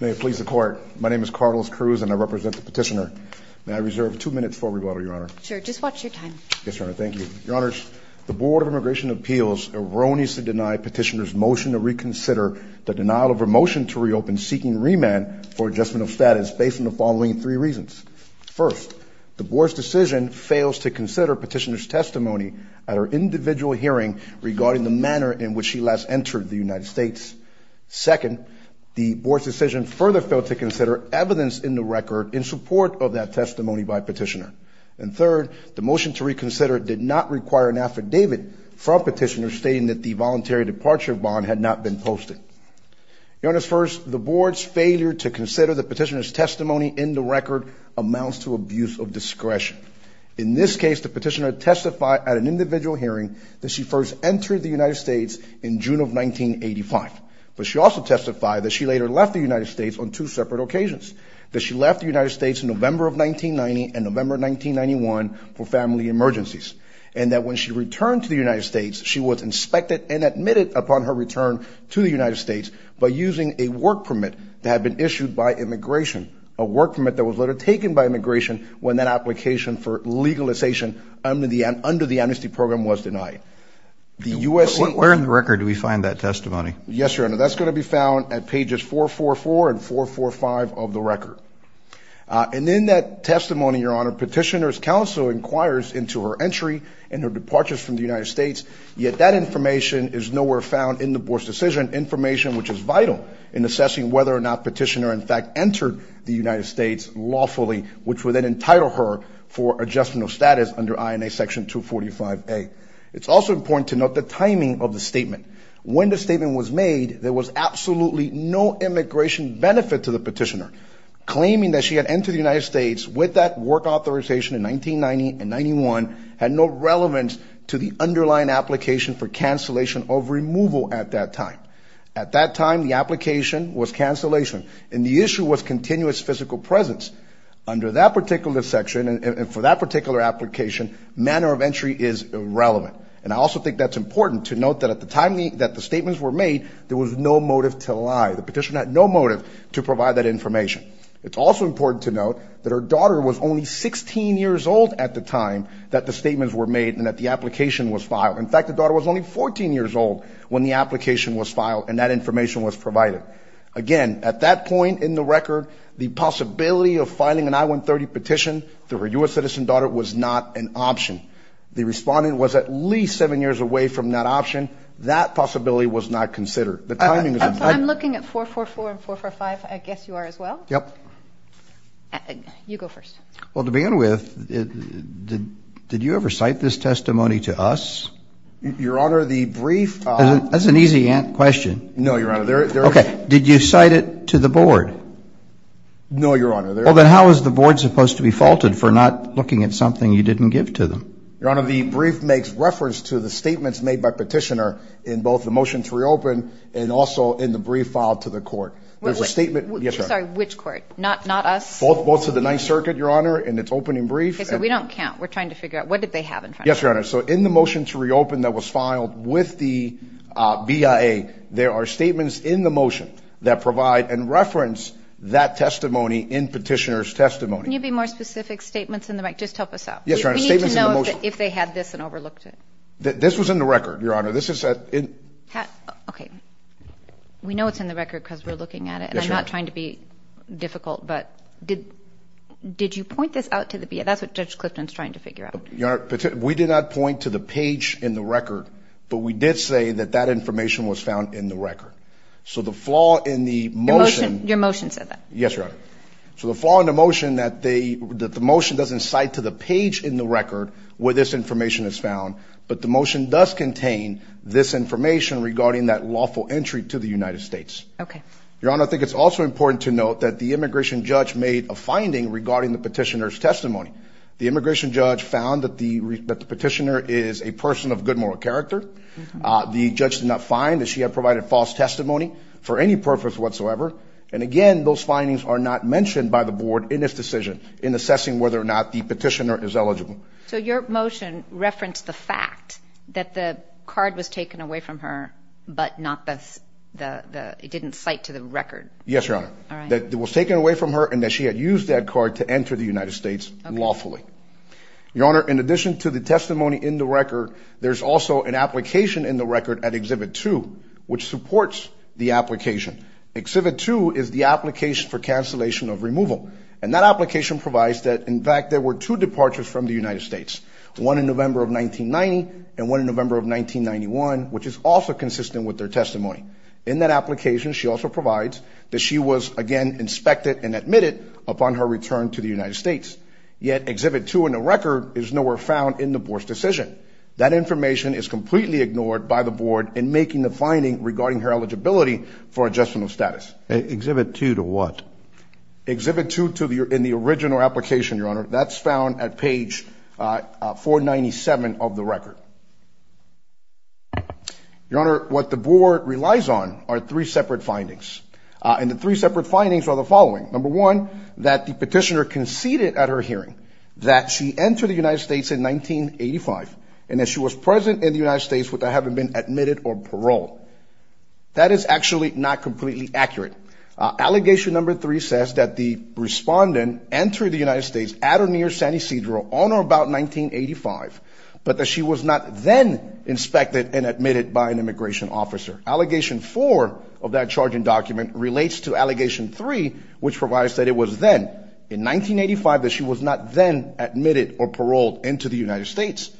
May it please the Court, my name is Carlos Cruz and I represent the petitioner. May I reserve two minutes for rebuttal, Your Honor? Sure, just watch your time. Yes, Your Honor, thank you. Your Honors, the Board of Immigration Appeals erroneously denied petitioner's motion to reconsider the denial of her motion to reopen seeking remand for adjustment of status based on the following three reasons. First, the Board's decision fails to consider petitioner's testimony at her individual hearing regarding the manner in which she last entered the United States. Second, the Board's decision further failed to consider evidence in the record in support of that testimony by petitioner. And third, the motion to reconsider did not require an affidavit from petitioner stating that the voluntary departure bond had not been posted. Your Honors, first, the Board's failure to consider the petitioner's testimony in the record amounts to abuse of discretion. In this case, the petitioner testified at an individual hearing that she first entered the United States in June of 1985, but she also testified that she later left the United States on two separate occasions, that she left the United States in November of 1990 and November 1991 for family emergencies, and that when she returned to the United States, she was inspected and admitted upon her return to the United States by using a work permit that had been issued by immigration, a work permit that was later taken by immigration when that application for legalization under the amnesty program was denied. Where in the record do we find that testimony? Yes, Your Honor, that's going to be found at pages 444 and 445 of the record. And in that testimony, Your Honor, petitioner's counsel inquires into her entry and her departures from the United States, yet that information is nowhere found in the Board's decision, information which is vital in assessing whether or not petitioner in fact entered the United States lawfully, which would then entitle her for adjustment of status under INA section 245A. It's also important to note the timing of the statement. When the statement was made, there was absolutely no immigration benefit to the petitioner. Claiming that she had entered the United States with that work authorization in 1990 and 91 had no relevance to the underlying application for cancellation of removal at that time. At that time, the application was cancellation, and the issue was continuous physical presence. Under that particular section and for that particular application, manner of entry is irrelevant. And I also think that's important to note that at the time that the statements were made, there was no motive to lie. The petitioner had no motive to provide that information. It's also important to note that her daughter was only 16 years old at the time that the statements were made and that the application was filed. In fact, the daughter was only 14 years old when the application was filed and that information was provided. Again, at that point in the record, the possibility of filing an I-130 petition through her U.S. citizen daughter was not an option. The respondent was at least seven years away from that option. That possibility was not considered. I'm looking at 444 and 445. I guess you are as well. Yep. You go first. Well, to begin with, did you ever cite this testimony to us? Your Honor, the brief... That's an easy question. No, Your Honor. Okay. Did you cite it to the board? No, Your Honor. Well, then how is the board supposed to be faulted for not looking at something you didn't give to them? Your Honor, the brief makes reference to the statements made by petitioner in both the motion to reopen and also in the brief filed to the court. There's a statement... Sorry, which court? Not us? Both to the Ninth Circuit, Your Honor, in its opening brief. Okay, so we don't count. We're trying to figure out what did they have in front of them. Yes, Your Honor. So in the motion to reopen that was filed with the BIA, there are statements in the motion that provide and reference that testimony in petitioner's testimony. Can you be more specific? Statements in the... Just help us out. Yes, Your Honor. Statements in the motion... We need to know if they had this and overlooked it. This was in the record, Your Honor. This is a... Okay. We know it's in the record because we're looking at it. Yes, Your Honor. I'm not trying to be difficult, but did you point this out to the BIA? That's what Judge Clifton's trying to figure out. Your Honor, we did not point to the but we did say that that information was found in the record. So the flaw in the motion... Your motion said that. Yes, Your Honor. So the flaw in the motion that the motion doesn't cite to the page in the record where this information is found, but the motion does contain this information regarding that lawful entry to the United States. Okay. Your Honor, I think it's also important to note that the immigration judge made a finding regarding the petitioner's testimony. The the judge did not find that she had provided false testimony for any purpose whatsoever. And again, those findings are not mentioned by the board in this decision in assessing whether or not the petitioner is eligible. So your motion referenced the fact that the card was taken away from her, but not the... It didn't cite to the record. Yes, Your Honor. That it was taken away from her and that she had used that card to enter the United States lawfully. Your Honor, in addition to the testimony in the record, there's also an application in the record at Exhibit 2 which supports the application. Exhibit 2 is the application for cancellation of removal. And that application provides that, in fact, there were two departures from the United States, one in November of 1990 and one in November of 1991, which is also consistent with their testimony. In that application, she also provides that she was, again, inspected and admitted upon her return to the United States. Yet Exhibit 2 in the record is nowhere found in the board's decision. That information is completely ignored by the board in making the finding regarding her eligibility for adjustment of status. Exhibit 2 to what? Exhibit 2 in the original application, Your Honor. That's found at page 497 of the record. Your Honor, what the board relies on are three separate findings. And the three separate findings are the following. Number one, that the petitioner conceded at her hearing that she entered the United States in 1985 and that she was present in the United States without having been admitted or paroled. That is actually not completely accurate. Allegation number three says that the respondent entered the United States at or near San Ysidro on or about 1985, but that she was not then inspected and admitted by an immigration officer. Allegation four of that charging document relates to in 1985 that she was not then admitted or paroled into the United States.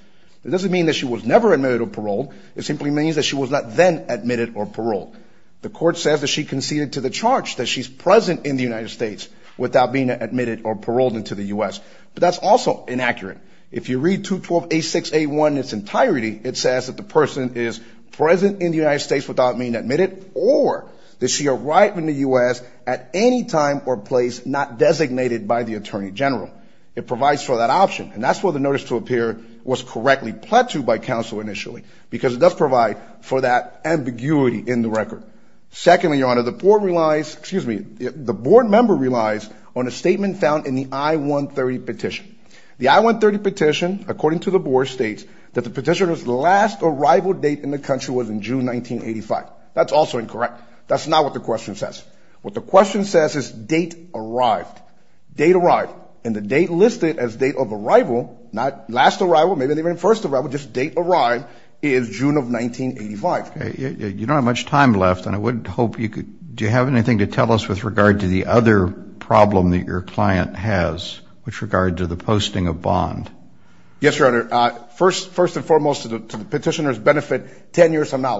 It doesn't mean that she was never admitted or paroled. It simply means that she was not then admitted or paroled. The court says that she conceded to the charge that she's present in the United States without being admitted or paroled into the U.S. But that's also inaccurate. If you read 212A6A1 in its entirety, it says that the person is present in the United States without being admitted or that she arrived in the U.S. at any time or place not designated by the Attorney General. It provides for that option, and that's where the notice to appear was correctly pledged to by counsel initially, because it does provide for that ambiguity in the record. Secondly, Your Honor, the board relies, excuse me, the board member relies on a statement found in the I-130 petition. The I-130 petition, according to the board, states that the petitioner's last arrival date in the country was in June 1985. That's also incorrect. That's not what the question says. What the question says is date arrived. Date arrived. And the date listed as date of arrival, not last arrival, maybe not even first arrival, just date arrived, is June of 1985. You don't have much time left, and I would hope you could, do you have anything to tell us with regard to the other problem that your client has with regard to the posting of bond? Yes, Your Honor. First and foremost, I would like to point out that the issue of the bond issue is not moot. It's been 10 years, and the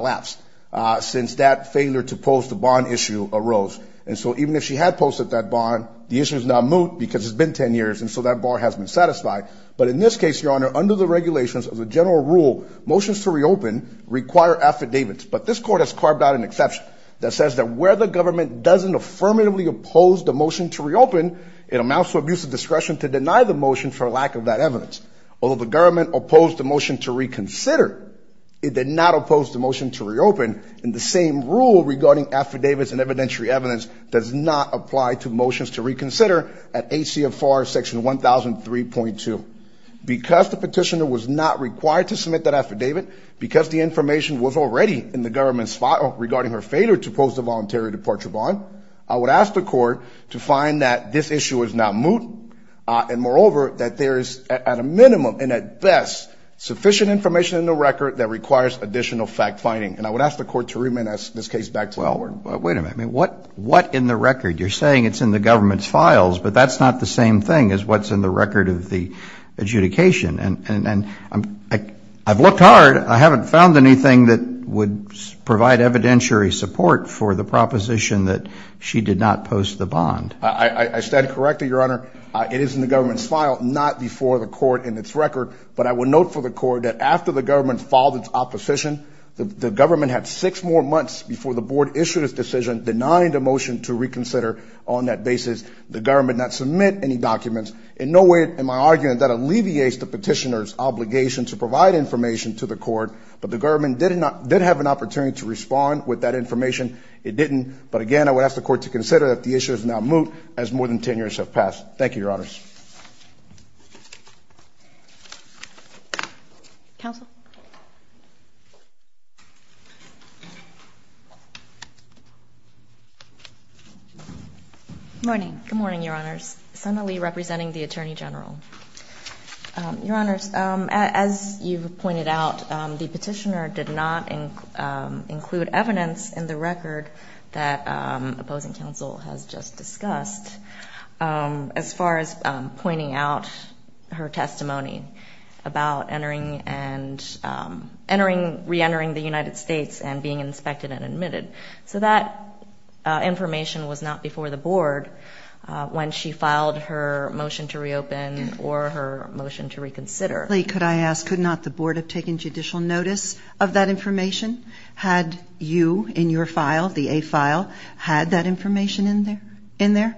issue of the bond issue has been 10 years, and so that bar has been satisfied. But in this case, Your Honor, under the regulations of the general rule, motions to reopen require affidavits, but this Court has carved out an exception that says that where the government doesn't affirmatively oppose the motion to reopen, it amounts to abusive discretion to deny the motion to reconsider. It did not oppose the motion to reopen, and the same rule regarding affidavits and evidentiary evidence does not apply to motions to reconsider at ACFR Section 1003.2. Because the petitioner was not required to submit that affidavit, because the information was already in the government's file regarding her failure to post a voluntary departure bond, I would ask the Court to find that this issue is not moot, and moreover, that there is at a minimum and at best sufficient information in the record that requires additional fact-finding. And I would ask the Court to remit this case back to Elwood. But wait a minute. What in the record? You're saying it's in the government's files, but that's not the same thing as what's in the record of the adjudication. And I've looked hard. I haven't found anything that would provide evidentiary support for the proposition that she did not post the bond. I stand corrected, Your Honor. It is in the government's file, not before the Court in its record. But I would note for the Court that after the government filed its opposition, the government had six more months before the Board issued its decision denying the motion to reconsider on that basis. The government did not submit any documents. In no way, in my argument, that alleviates the petitioner's obligation to provide information to the Court, but the government did have an opportunity to respond with that information. It didn't. But again, I would ask the Court to consider that the issue is now moot as more than 10 years have passed. Thank you, Your Honors. Counsel? Good morning. Good morning, Your Honors. Sana Lee representing the Attorney General. Your Honors, as you've pointed out, the petitioner did not include evidence in the record that opposing counsel has just discussed as far as pointing out her testimony about entering and entering, reentering the United States and being inspected and admitted. So that information was not before the Board when she filed her motion to reopen or her motion to reconsider. Could I ask, could not the Board have taken judicial notice of that information? Had you, in your file, the A file, had that information in there?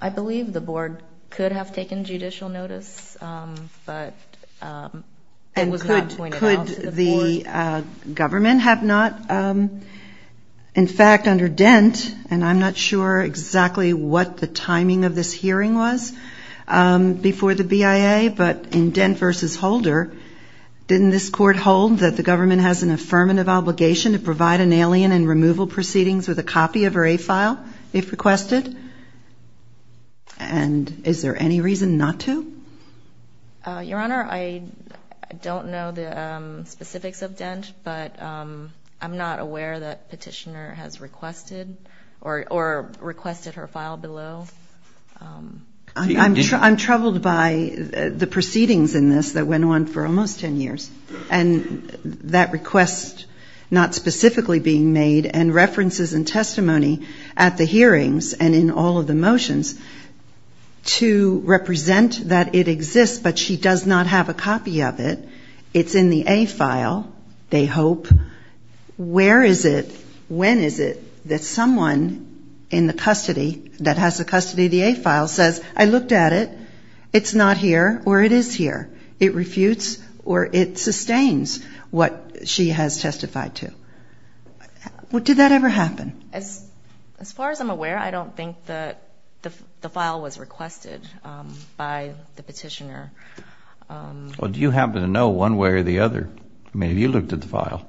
I believe the Board could have taken judicial notice, but it was not pointed out to the Board. And could the government have not? In fact, under Dent, and I'm not sure exactly what the timing of this hearing was before the BIA, but in Dent v. Holder, didn't this Court hold that the government has an obligation to provide an alien and removal proceedings with a copy of her A file, if requested? And is there any reason not to? Your Honor, I don't know the specifics of Dent, but I'm not aware that petitioner has requested or requested her file below. I'm troubled by the proceedings in this that went on for almost 10 years and that request not specifically being made and references and testimony at the hearings and in all of the motions to represent that it exists, but she does not have a copy of it. It's in the A file, they hope. Where is it, when is it that someone in the custody that has the custody of the A file says, I looked at it, it's not here or it is here. It refutes or it sustains what she has testified to. Did that ever happen? As far as I'm aware, I don't think that the file was requested by the petitioner. Well, do you happen to know one way or the other? I mean, have you looked at the file?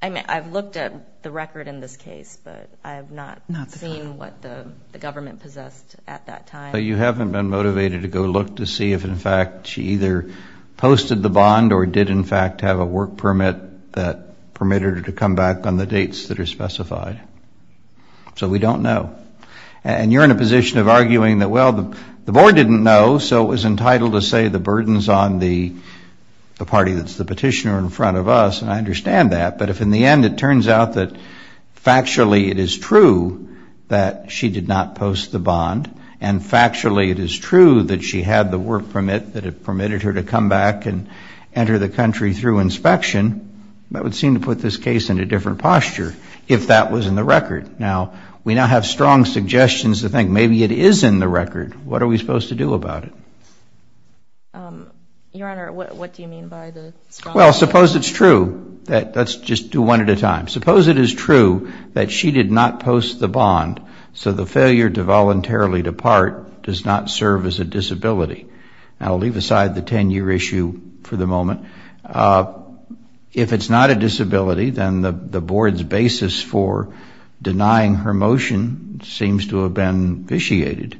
I mean, I've looked at the record in this case, but I have not seen what the government possessed at that time. But you haven't been motivated to go look to see if in fact she either posted the bond or did in fact have a work permit that permitted her to come back on the dates that so we don't know. And you're in a position of arguing that, well, the board didn't know, so it was entitled to say the burdens on the party that's the petitioner in front of us. And I understand that. But if in the end it turns out that factually it is true that she did not post the bond and factually it is true that she had the work permit that permitted her to come back and enter the country through inspection, that would seem to put this case in a different record. Now, we now have strong suggestions to think maybe it is in the record. What are we supposed to do about it? Your Honor, what do you mean by the strong suggestion? Well, suppose it's true. Let's just do one at a time. Suppose it is true that she did not post the bond, so the failure to voluntarily depart does not serve as a disability. I'll leave aside the 10-year issue for the moment. If it's not a disability, then the board's basis for denying her motion seems to have been vitiated.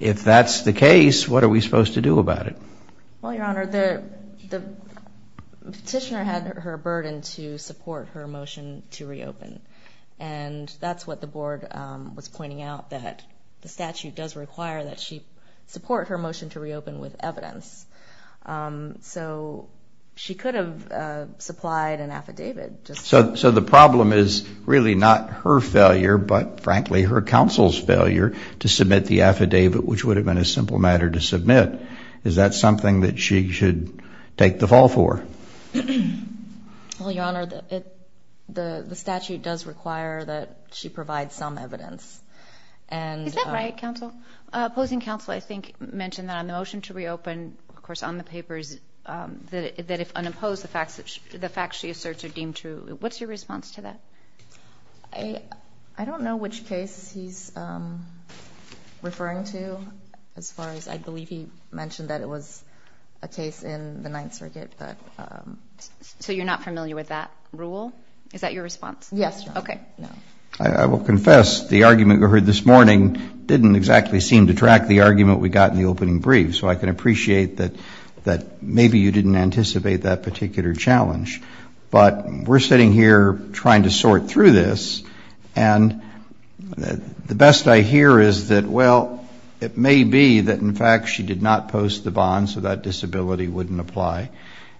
If that's the case, what are we supposed to do about it? Well, Your Honor, the petitioner had her burden to support her motion to reopen. And that's what the board was pointing out, that the statute does require that she support her motion to reopen with evidence. So she could have supplied an affidavit. So the problem is really not her failure, but frankly, her counsel's failure to submit the affidavit, which would have been a simple matter to submit. Is that something that she should take the fall for? Well, Your Honor, the statute does require that she provide some evidence. Is that right, counsel? Opposing counsel, I think, mentioned that on the motion to reopen, of course, on the papers, that if unopposed, the facts she asserts are deemed true. What's your response to that? I don't know which case he's referring to, as far as I believe he mentioned that it was a case in the Ninth Circuit. So you're not familiar with that rule? Is that your response? Yes, Your Honor. Okay. No. I will confess the argument we heard this morning didn't exactly seem to track the argument we got in the opening brief. So I can appreciate that maybe you didn't anticipate that particular challenge. But we're sitting here trying to sort through this, and the best I hear is that, well, it may be that, in fact, she did not post the bond, so that disability wouldn't apply.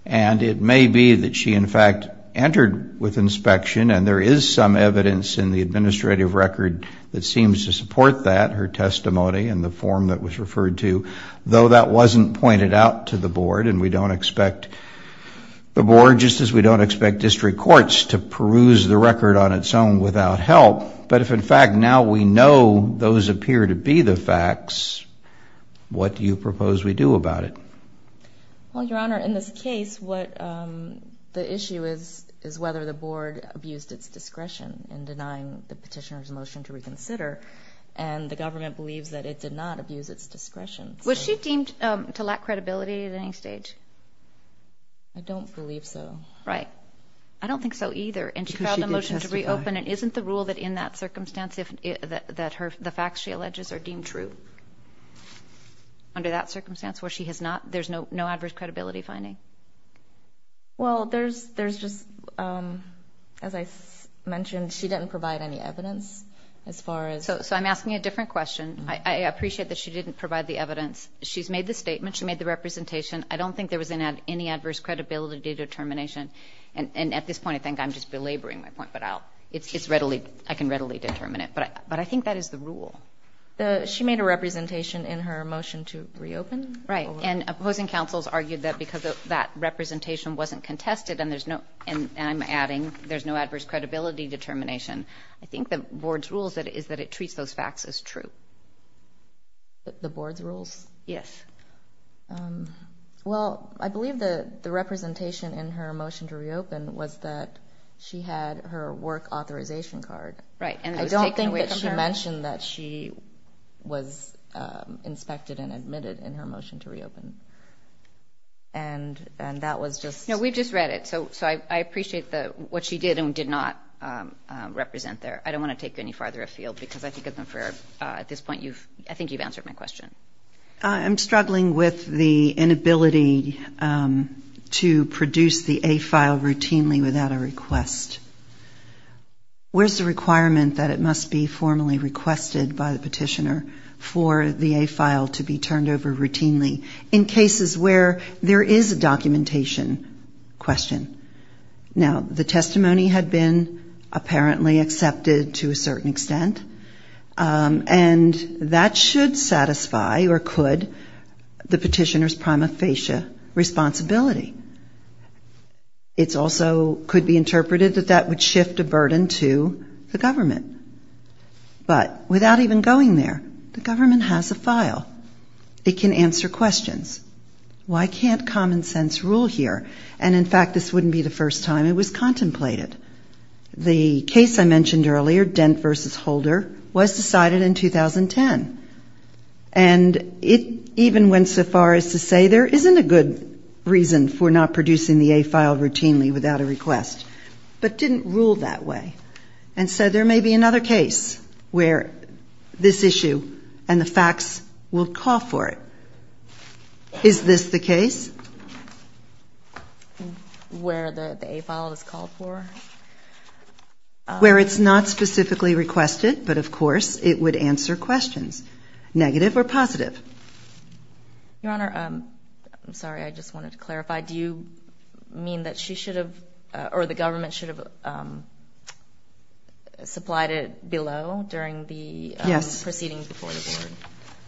And it may be that she, in fact, entered with inspection, and there is some evidence in the record that seems to support that, her testimony and the form that was referred to, though that wasn't pointed out to the board. And we don't expect the board, just as we don't expect district courts, to peruse the record on its own without help. But if, in fact, now we know those appear to be the facts, what do you propose we do about it? Well, Your Honor, in this case, what the issue is, is whether the board abused its discretion in denying the petitioner's motion to reconsider, and the government believes that it did not abuse its discretion. Was she deemed to lack credibility at any stage? I don't believe so. Right. I don't think so, either. And she filed a motion to reopen, and isn't the rule that, in that circumstance, the facts she alleges are deemed true? Under that circumstance, where there's no adverse credibility finding? Well, there's just, as I mentioned, she didn't provide any evidence, as far as... So I'm asking a different question. I appreciate that she didn't provide the evidence. She's made the statement, she made the representation. I don't think there was any adverse credibility determination. And at this point, I think I'm just belaboring my point, but I can readily determine it. But I think that is the rule. She made a representation in her motion to reopen? Right. And opposing councils argued that because that representation wasn't contested, and there's no, and I'm adding, there's no adverse credibility determination. I think the board's rule is that it treats those facts as true. The board's rules? Yes. Well, I believe the representation in her motion to reopen was that she had her work authorization card. Right. And it was taken away from her? I don't think that she mentioned that she was inspected and admitted in her motion to reopen. And that was just... No, we just read it. So I appreciate what she did and did not represent there. I don't want to take any farther afield, because I think at this point, you've, I think you've answered my question. I'm struggling with the inability to produce the A file routinely without a request. Where's the requirement that it must be formally requested by the petitioner for the A file to be turned over routinely in cases where there is a documentation question? Now, the testimony had been apparently accepted to a certain extent, and that should satisfy or could the petitioner's prima facie responsibility. It's also could be interpreted that that would shift a burden to the government. But without even going there, the government has a file. It can answer questions. Why can't common sense rule here? And in fact, this wouldn't be the first time it was contemplated. The case I mentioned earlier, Dent v. Holder, was decided in 2010. And it even went so far as to say there isn't a good reason for not producing the A file routinely without a request, but didn't rule that way. And so there may be another case where this issue and the facts will call for it. Is this the case? Where the A file is called for? Where it's not specifically requested, but of course, it would answer questions, negative or positive. Your Honor, I'm sorry, I just wanted to clarify. Do you mean that she should have or the government should have supplied it below during the proceedings before the board?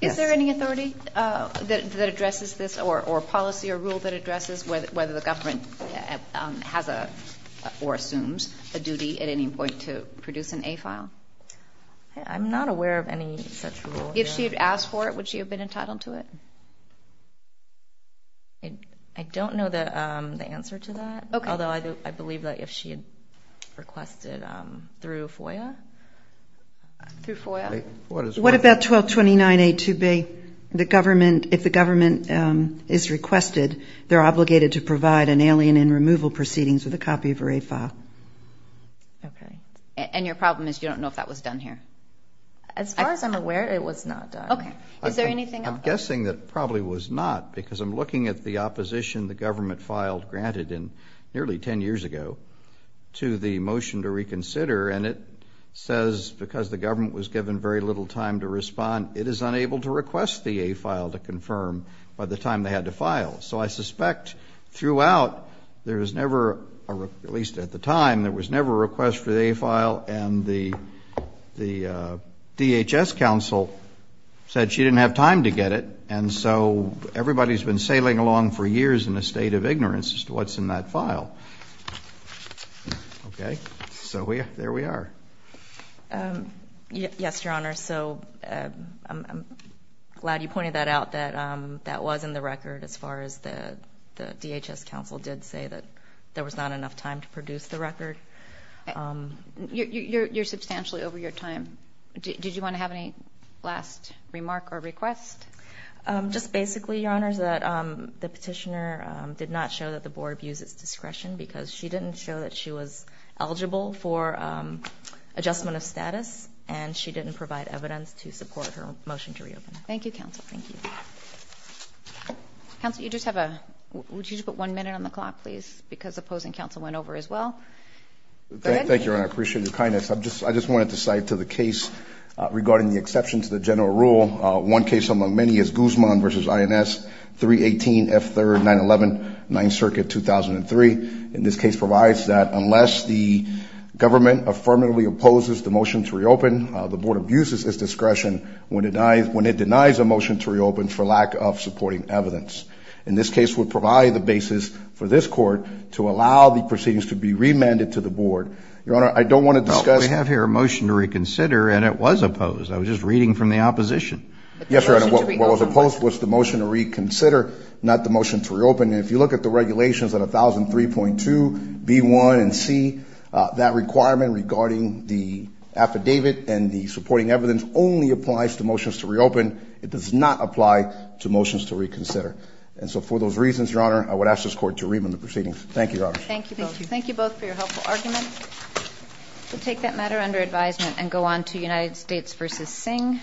Yes. Is there any authority that addresses this or policy or rule that addresses whether the government has or assumes a duty at any point to produce an A file? I'm not aware of any such rule. If she had asked for it, would she have been entitled to it? I don't know the answer to that. Although I believe that if she had requested through FOIA. What about 1229A2B? If the government is requested, they're obligated to provide an alien in removal proceedings with a copy of her A file. Okay. And your problem is you don't know if that was done here. As far as I'm aware, it was not. Okay. Is there anything I'm guessing that probably was not because I'm looking at the opposition the government filed granted in nearly 10 years ago to the motion to reconsider and it says because the government was given very little time to respond, it is unable to request the A file to confirm by the time they had to file. So I suspect throughout, there was never, at least at the time, there was never a the DHS counsel said she didn't have time to get it. And so everybody's been sailing along for years in a state of ignorance as to what's in that file. Okay. So there we are. Yes, Your Honor. So I'm glad you pointed that out that that was in the record as far as the DHS counsel did say that there was not enough time to produce the record. You're, you're, you're substantially over your time. Did you want to have any last remark or request? Just basically, Your Honor, is that the petitioner did not show that the board views its discretion because she didn't show that she was eligible for adjustment of status and she didn't provide evidence to support her motion to reopen. Thank you, counsel. Thank you. Counsel, you just have a, would you just put one minute on the clock, please? Because opposing counsel went over as well. Thank you. I appreciate your kindness. I'm just, I just wanted to cite to the case regarding the exceptions to the general rule. One case among many is Guzman v. INS 318 F3 911 9th Circuit 2003. In this case provides that unless the government affirmatively opposes the motion to reopen, the board abuses its discretion when it denies, when it denies a motion to reopen for lack of supporting evidence. In this case, would provide the basis for this court to allow the proceedings to be remanded to the board. Your Honor, I don't want to discuss. We have here a motion to reconsider and it was opposed. I was just reading from the opposition. Yes, Your Honor, what was opposed was the motion to reconsider, not the motion to reopen. And if you look at the regulations at 1003.2 B1 and C, that requirement regarding the affidavit and the supporting evidence only applies to motions to reopen. It does not apply to motions to reconsider. And so for those reasons, Your Honor, I would ask this court to remand the proceedings. Thank you, Your Honor. Thank you. Thank you both for your helpful arguments. We'll take that matter under advisement and go on to United States v. Singh.